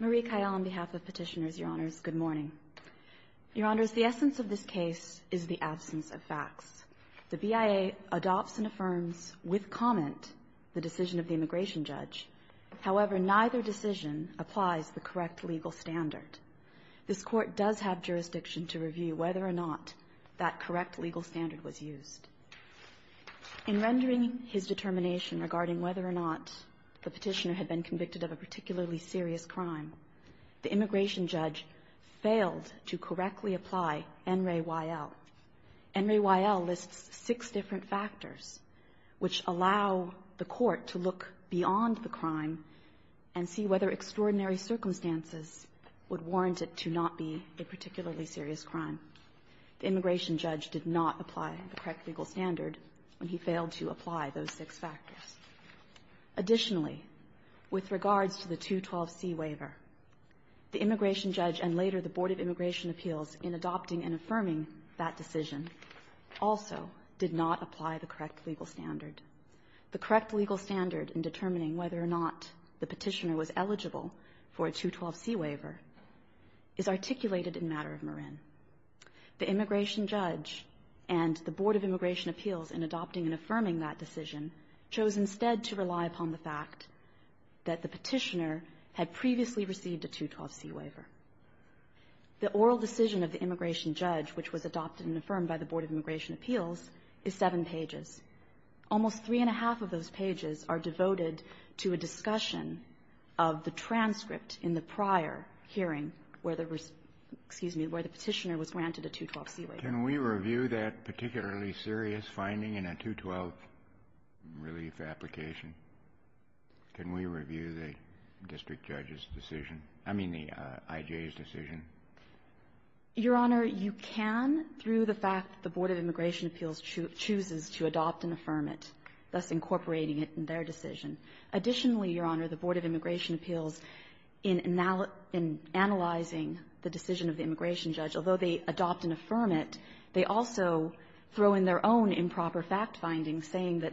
Marie Kyle on behalf of petitioners, your honors, good morning. Your honors, the essence of this case is the absence of facts. The BIA adopts and affirms with comment the decision of the immigration judge. However, neither decision applies the correct legal standard. This court does have jurisdiction to review whether or not that correct legal standard was used. In rendering his determination regarding whether or not the petitioner had been convicted of a particularly serious crime, the immigration judge failed to correctly apply NRAYL. NRAYL lists six different factors which allow the court to look beyond the crime and see whether extraordinary circumstances would warrant it to not be a particularly serious crime. The immigration judge did not apply the correct legal standard when he failed to apply those six factors. Additionally, with regards to the 212C waiver, the immigration judge and later the Board of Immigration Appeals in adopting and affirming that decision also did not apply the correct legal standard. The correct legal standard in determining whether or not the petitioner was eligible for a 212C waiver is articulated in Matter of Marin. The immigration judge and the Board of Immigration Appeals in adopting and affirming that decision chose instead to rely upon the fact that the petitioner had previously received a 212C waiver. The oral decision of the immigration judge, which was adopted and affirmed by the Board of Immigration Appeals, is seven pages. Almost three and a half of those pages are devoted to a discussion of the transcript in the prior hearing where the petitioner was granted a 212C waiver. Can we review that particularly serious finding in a 212 relief application? Can we review the district judge's decision? I mean the I.J.'s decision? Your Honor, you can through the fact that the Board of Immigration Appeals chooses to adopt and affirm it, thus incorporating it in their decision. Additionally, Your Honor, the Board of Immigration Appeals, in analyzing the decision of the immigration judge, although they adopt and affirm it, they also throw in their own improper fact findings saying that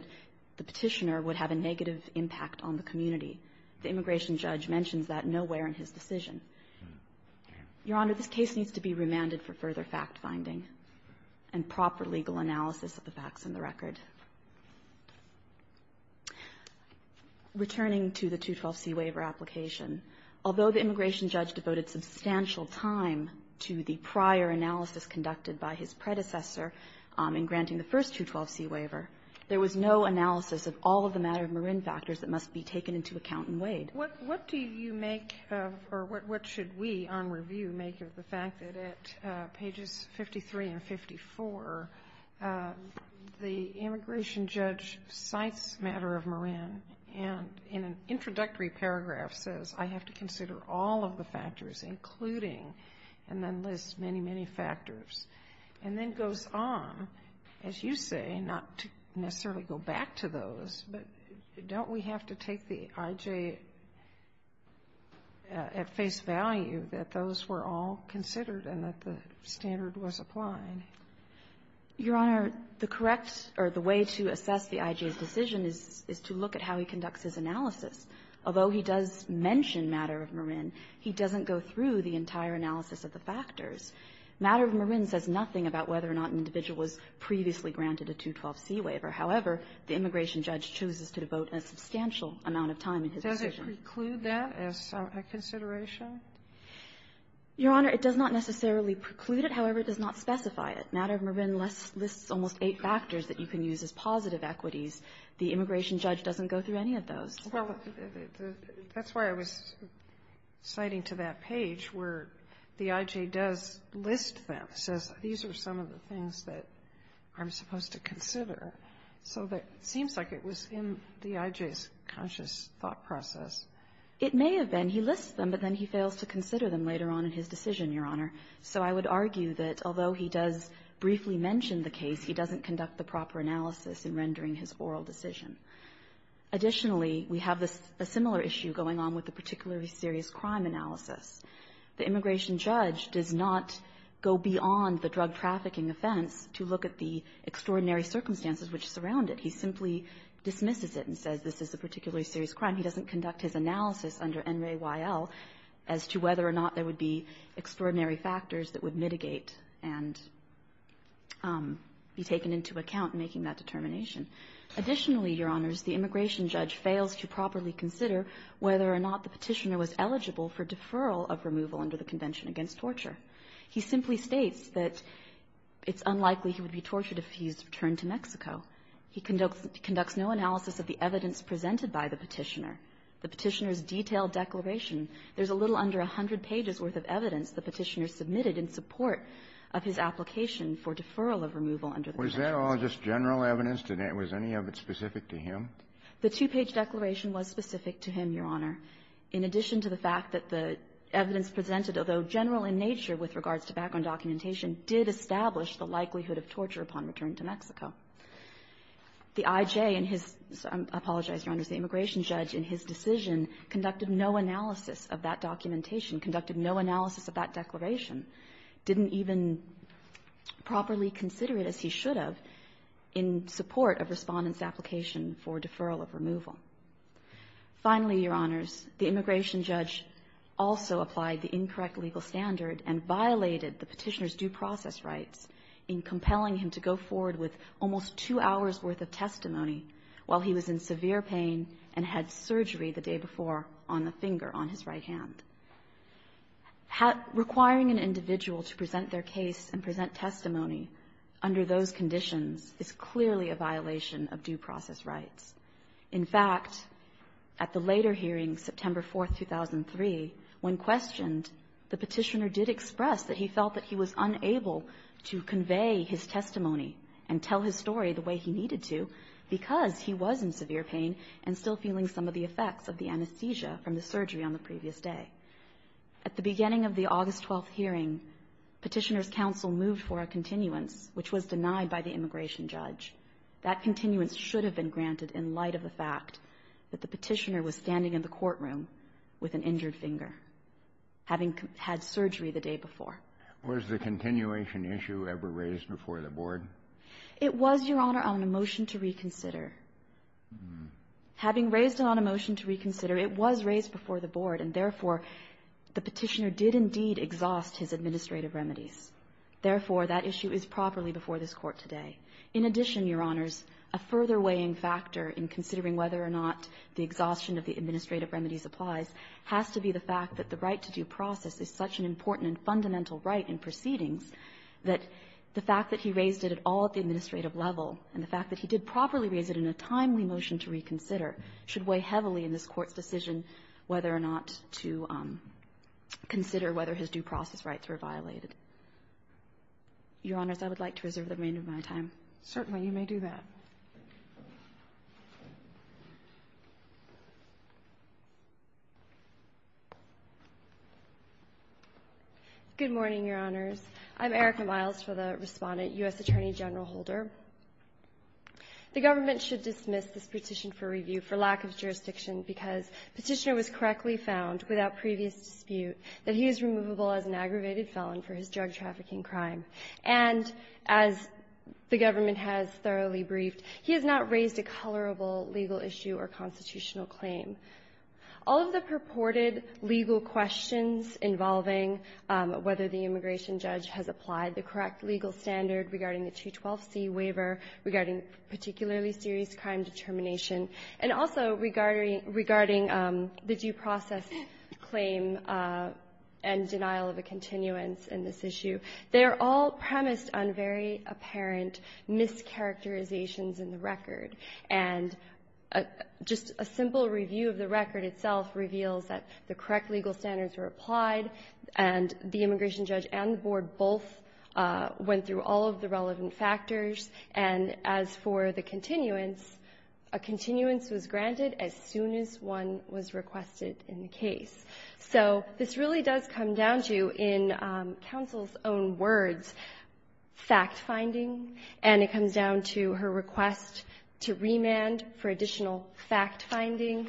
the petitioner would have a negative impact on the community. The immigration judge mentions that nowhere in his decision. Your Honor, this case needs to be remanded for further fact-finding and proper legal analysis of the facts in the record. Returning to the 212C waiver application, although the immigration judge devoted substantial time to the prior analysis conducted by his predecessor in granting the first 212C waiver, there was no analysis of all of the matter of Marin factors that must be taken into account in Wade. What do you make of, or what should we on review make of the fact that at pages 53 and 54, the immigration judge cites matter of Marin and in an introductory paragraph says, I have to consider all of the factors including, and then lists many, many factors and then goes on, as you say, not to necessarily go back to those, but don't we have to take the I.J. at face value that those were all considered and that the standard was applied? Your Honor, the correct or the way to assess the I.J.'s decision is to look at how he conducts his analysis. Although he does mention matter of Marin, he doesn't go through the entire analysis of the factors. Matter of Marin says nothing about whether or not an individual was previously granted a 212C waiver. However, the immigration judge chooses to devote a substantial amount of time in his Sotomayor, does it preclude that as a consideration? Your Honor, it does not necessarily preclude it. However, it does not specify it. Matter of Marin lists almost eight factors that you can use as positive equities. The immigration judge doesn't go through any of those. Well, that's why I was citing to that page where the I.J. does list them, says these are some of the things that I'm supposed to consider. So that seems like it was in the I.J.'s conscious thought process. It may have been. He lists them, but then he fails to consider them later on in his decision, Your Honor. So I would argue that although he does briefly mention the case, he doesn't conduct the proper analysis in rendering his oral decision. Additionally, we have a similar issue going on with the particularly serious crime analysis. The immigration judge does not go beyond the drug trafficking offense to look at the extraordinary circumstances which surround it. He simply dismisses it and says this is a particularly serious crime. He doesn't conduct his analysis under N. Ray Y.L. as to whether or not there would be extraordinary factors that would mitigate and be taken into account in making that determination. Additionally, Your Honors, the immigration judge fails to properly consider whether or not the Petitioner was eligible for deferral of removal under the Convention against Torture. He simply states that it's unlikely he would be tortured if he's returned to Mexico. He conducts no analysis of the evidence presented by the Petitioner. The Petitioner's detailed declaration, there's a little under 100 pages worth of evidence the Petitioner submitted in support of his application for deferral of removal under the Convention. Was that all just general evidence? Was any of it specific to him? The two-page declaration was specific to him, Your Honor, in addition to the fact that the evidence presented, although general in nature with regards to background documentation, did establish the likelihood of torture upon return to Mexico. The I.J. in his – I apologize, Your Honors – the immigration judge in his decision conducted no analysis of that documentation, conducted no analysis of that declaration, didn't even properly consider it as he should have in support of Respondent's request for deferral of removal. Finally, Your Honors, the immigration judge also applied the incorrect legal standard and violated the Petitioner's due process rights in compelling him to go forward with almost two hours' worth of testimony while he was in severe pain and had surgery the day before on the finger on his right hand. Requiring an individual to present their case and present testimony under those conditions is clearly a violation of due process rights. In fact, at the later hearing, September 4, 2003, when questioned, the Petitioner did express that he felt that he was unable to convey his testimony and tell his story the way he needed to because he was in severe pain and still feeling some of the effects of the anesthesia from the surgery on the previous day. At the beginning of the August 12 hearing, Petitioner's counsel moved for a continuance, which was denied by the immigration judge. That continuance should have been granted in light of the fact that the Petitioner was standing in the courtroom with an injured finger, having had surgery the day before. Was the continuation issue ever raised before the Board? It was, Your Honor, on a motion to reconsider. Having raised it on a motion to reconsider, it was raised before the Board, and therefore, the Petitioner did indeed exhaust his administrative remedies. Therefore, that issue is properly before this Court today. In addition, Your Honors, a further weighing factor in considering whether or not the exhaustion of the administrative remedies applies has to be the fact that the right to due process is such an important and fundamental right in proceedings that the fact that he raised it at all at the administrative level and the fact that he did properly raise it in a timely motion to reconsider should weigh heavily in this Court's decision whether or not to consider whether his due process rights were violated. Your Honors, I would like to reserve the remainder of my time. Certainly. You may do that. Good morning, Your Honors. I'm Erica Miles for the Respondent, U.S. Attorney General Holder. The government should dismiss this Petition for Review for lack of jurisdiction because Petitioner was correctly found without previous dispute that he is removable as an aggravated felon for his drug-trafficking crime. And as the government has thoroughly briefed, he has not raised a colorable legal issue or constitutional claim. All of the purported legal questions involving whether the immigration judge has applied the correct legal standard regarding the 212c waiver, regarding particularly serious crime determination, and also regarding the due process claim and denial of a continuance in this issue, they are all premised on very apparent mischaracterizations in the record. And just a simple review of the record itself reveals that the correct legal standards were applied, and the immigration judge and the Board both went through all of the relevant factors. And as for the continuance, a continuance was granted as soon as one was requested in the case. So this really does come down to, in counsel's own words, fact-finding. And it comes down to her request to remand for additional fact-finding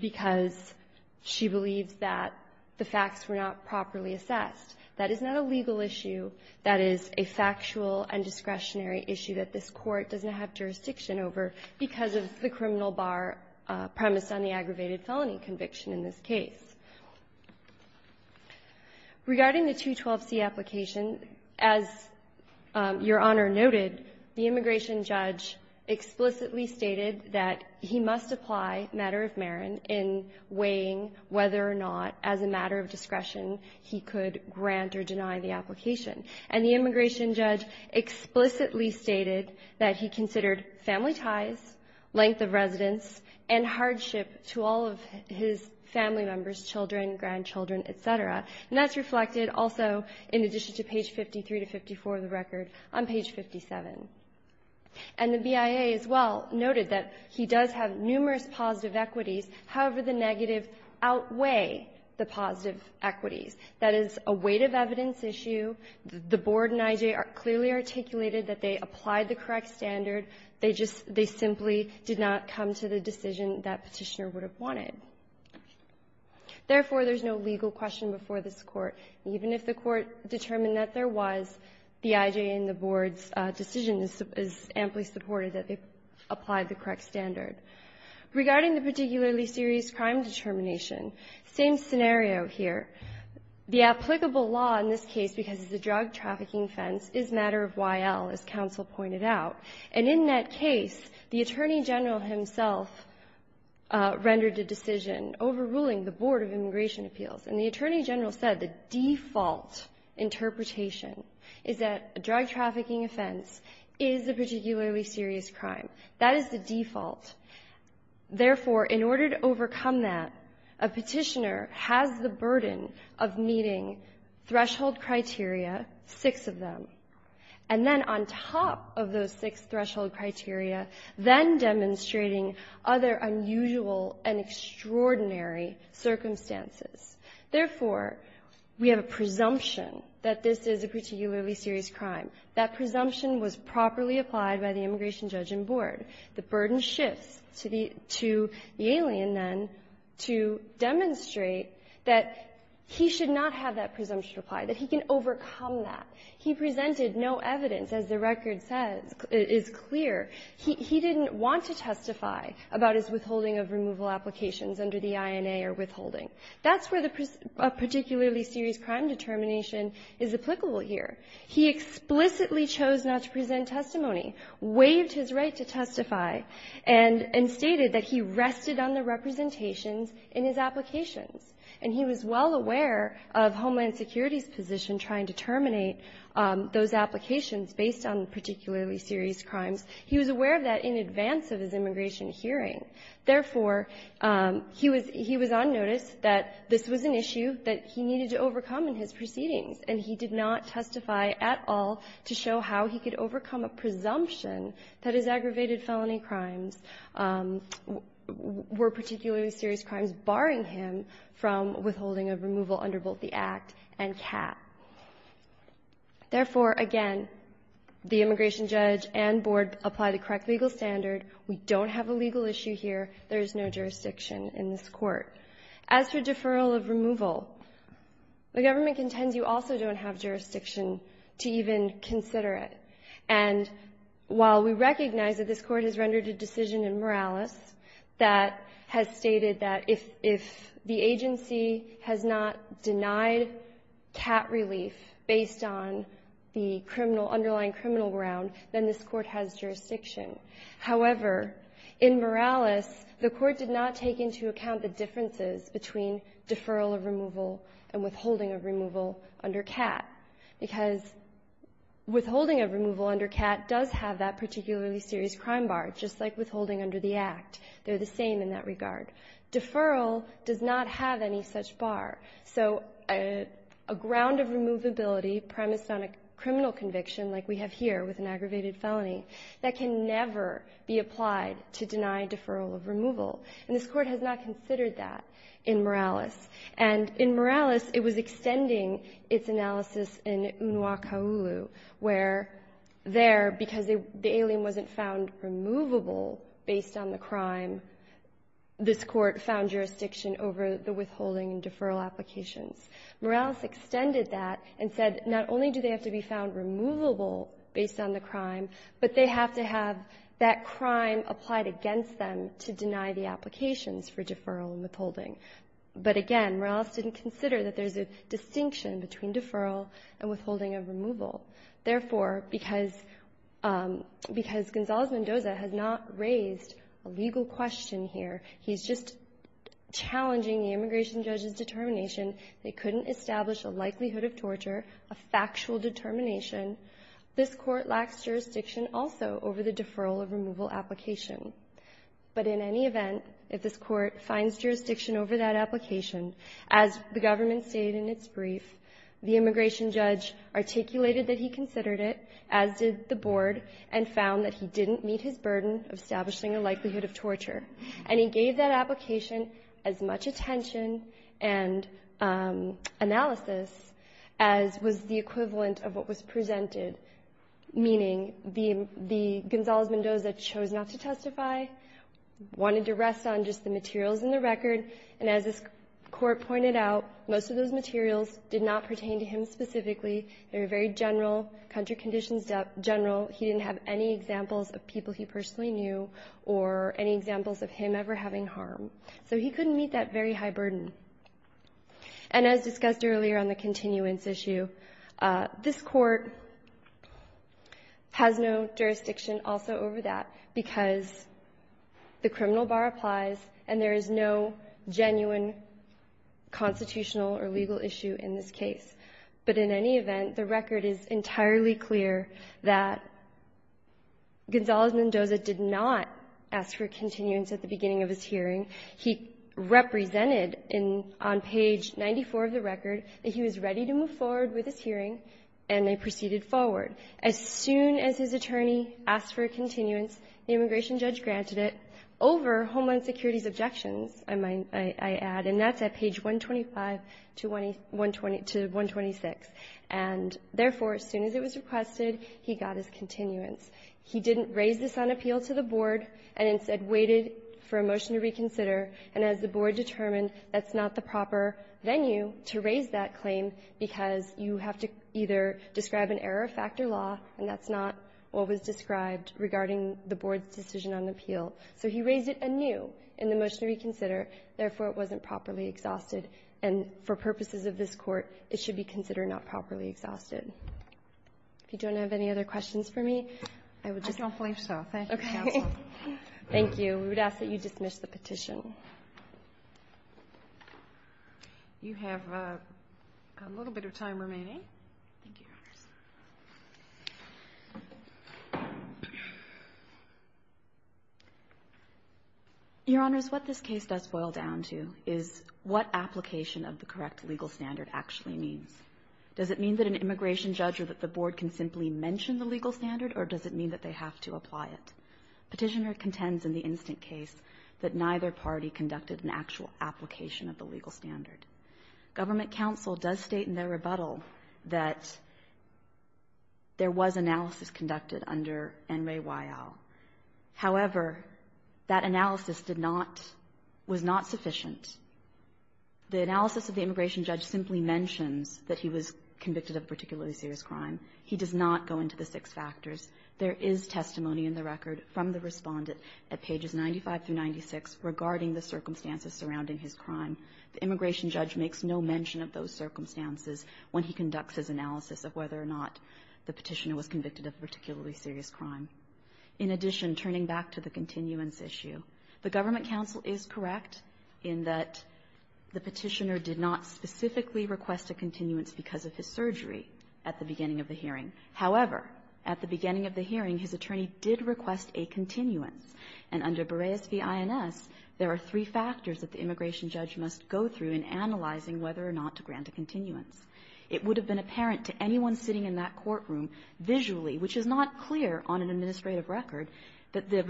because she believes that the facts were not properly assessed. That is not a legal issue. That is a factual and discretionary issue that this Court doesn't have jurisdiction over because of the criminal bar premised on the aggravated felony conviction in this case. Regarding the 212c application, as Your Honor noted, the immigration judge explicitly stated that he must apply matter of Marin in weighing whether or not, as a matter of discretion, he could grant or deny the application. And the immigration judge explicitly stated that he considered family ties, length of residence, and hardship to all of his family members, children, grandchildren, et cetera. And that's reflected also in addition to page 53 to 54 of the record on page 57. And the BIA as well noted that he does have numerous positive equities. However, the negative outweigh the positive equities. That is a weight of evidence issue. The Board and I.J. clearly articulated that they applied the correct standard. They just they simply did not come to the decision that Petitioner would have wanted. Therefore, there's no legal question before this Court. Even if the Court determined that there was, the I.J. and the Board's decision is amply supported that they applied the correct standard. Regarding the particularly serious crime determination, same scenario here. The applicable law in this case, because it's a drug trafficking offense, is matter of Y.L., as counsel pointed out. And in that case, the Attorney General himself rendered a decision overruling the Board of Immigration Appeals. And the Attorney General said the default interpretation is that a drug trafficking offense is a particularly serious crime. That is the default. Therefore, in order to overcome that, a Petitioner has the burden of meeting threshold criteria, six of them. And then on top of those six threshold criteria, then demonstrating other unusual and extraordinary circumstances. Therefore, we have a presumption that this is a particularly serious crime. That presumption was properly applied by the immigration judge and board. The burden shifts to the alien, then, to demonstrate that he should not have that presumption applied, that he can overcome that. He presented no evidence, as the record says, is clear. He didn't want to testify about his withholding of removal applications under the INA or withholding. That's where the particularly serious crime determination is applicable here. He explicitly chose not to present testimony, waived his right to testify, and stated that he rested on the representations in his applications. And he was well aware of Homeland Security's position trying to terminate those applications based on particularly serious crimes. He was aware of that in advance of his immigration hearing. Therefore, he was on notice that this was an issue that he needed to overcome in his proceedings, and he did not testify at all to show how he could overcome a presumption that his aggravated felony crimes were particularly serious crimes, barring him from withholding of removal under both the Act and CAP. Therefore, again, the immigration judge and board apply the correct legal standard. We don't have a legal issue here. There is no jurisdiction in this Court. As for deferral of removal, the government contends you also don't have jurisdiction to even consider it. And while we recognize that this Court has rendered a decision in Morales that has determined that if the agency has not denied CAT relief based on the criminal underlying criminal ground, then this Court has jurisdiction. However, in Morales, the Court did not take into account the differences between deferral of removal and withholding of removal under CAT, because withholding of removal under CAT does have that particularly serious crime bar, just like withholding under the Act. They're the same in that regard. Deferral does not have any such bar. So a ground of removability premised on a criminal conviction, like we have here with an aggravated felony, that can never be applied to deny deferral of removal. And this Court has not considered that in Morales. And in Morales, it was extending its analysis in Unua Kauulu, where there, because the alien wasn't found removable based on the crime, this Court found jurisdiction over the withholding and deferral applications. Morales extended that and said, not only do they have to be found removable based on the crime, but they have to have that crime applied against them to deny the applications for deferral and withholding. But again, Morales didn't consider that there's a distinction between deferral and withholding of removal. Therefore, because Gonzalez-Mendoza has not raised a legal question here, he's just challenging the immigration judge's determination. They couldn't establish a likelihood of torture, a factual determination. This Court lacks jurisdiction also over the deferral of removal application. But in any event, if this Court finds jurisdiction over that application, as the government stated in its brief, the immigration judge articulated that he considered it, as did the Board, and found that he didn't meet his burden of establishing a likelihood of torture. And he gave that application as much attention and analysis as was the equivalent of what was presented, meaning the Gonzalez-Mendoza chose not to testify, wanted to rest on just the materials in the record. And as this Court pointed out, most of those materials did not pertain to him specifically. They were very general, country conditions general. He didn't have any examples of people he personally knew or any examples of him ever having harm. So he couldn't meet that very high burden. And as discussed earlier on the continuance issue, this Court has no jurisdiction also over that because the criminal bar applies and there is no genuine constitutional or legal issue in this case. But in any event, the record is entirely clear that Gonzalez-Mendoza did not ask for continuance at the beginning of his hearing. He represented on page 94 of the record that he was ready to move forward with his hearing, and they proceeded forward. As soon as his attorney asked for a continuance, the immigration judge granted it over Homeland Security's objections, I might add, and that's at page 125 to 126. And therefore, as soon as it was requested, he got his continuance. He didn't raise this on appeal to the Board and instead waited for a motion to reconsider. And as the Board determined, that's not the proper venue to raise that claim because you have to either describe an error of fact or law, and that's not what was described regarding the Board's decision on appeal. So he raised it anew in the motion to reconsider. Therefore, it wasn't properly exhausted. And for purposes of this Court, it should be considered not properly exhausted. If you don't have any other questions for me, I would just ask that you dismiss the petition. So you have a little bit of time remaining. Thank you, Your Honors. Your Honors, what this case does boil down to is what application of the correct legal standard actually means. Does it mean that an immigration judge or that the Board can simply mention the legal standard, or does it mean that they have to apply it? Petitioner contends in the instant case that neither party conducted an actual application of the legal standard. Government counsel does state in their rebuttal that there was analysis conducted under Enrye Wyal. However, that analysis did not – was not sufficient. The analysis of the immigration judge simply mentions that he was convicted of particularly serious crime. He does not go into the six factors. There is testimony in the record from the Respondent at pages 95 through 96 regarding the circumstances surrounding his crime. The immigration judge makes no mention of those circumstances when he conducts his analysis of whether or not the Petitioner was convicted of particularly serious crime. In addition, turning back to the continuance issue, the Government counsel is correct in that the Petitioner did not specifically request a continuance because of his surgery at the beginning of the hearing. However, at the beginning of the hearing, his attorney did request a continuance. And under Berreus v. INS, there are three factors that the immigration judge must go through in analyzing whether or not to grant a continuance. It would have been apparent to anyone sitting in that courtroom visually, which is not clear on an administrative record, that the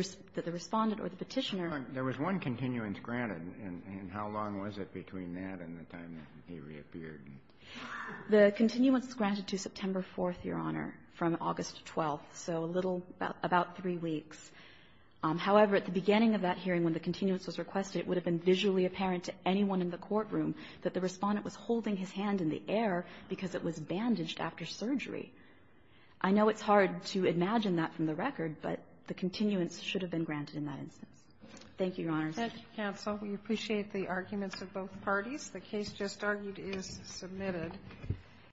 Respondent or the Petitioner – But there was one continuance granted, and how long was it between that and the time that he reappeared? The continuance is granted to September 4th, Your Honor, from August 12th, so a little – about three weeks. However, at the beginning of that hearing, when the continuance was requested, it would have been visually apparent to anyone in the courtroom that the Respondent was holding his hand in the air because it was bandaged after surgery. I know it's hard to imagine that from the record, but the continuance should have been granted in that instance. Thank you, Your Honors. Thank you, counsel. We appreciate the arguments of both parties. The case just argued is submitted.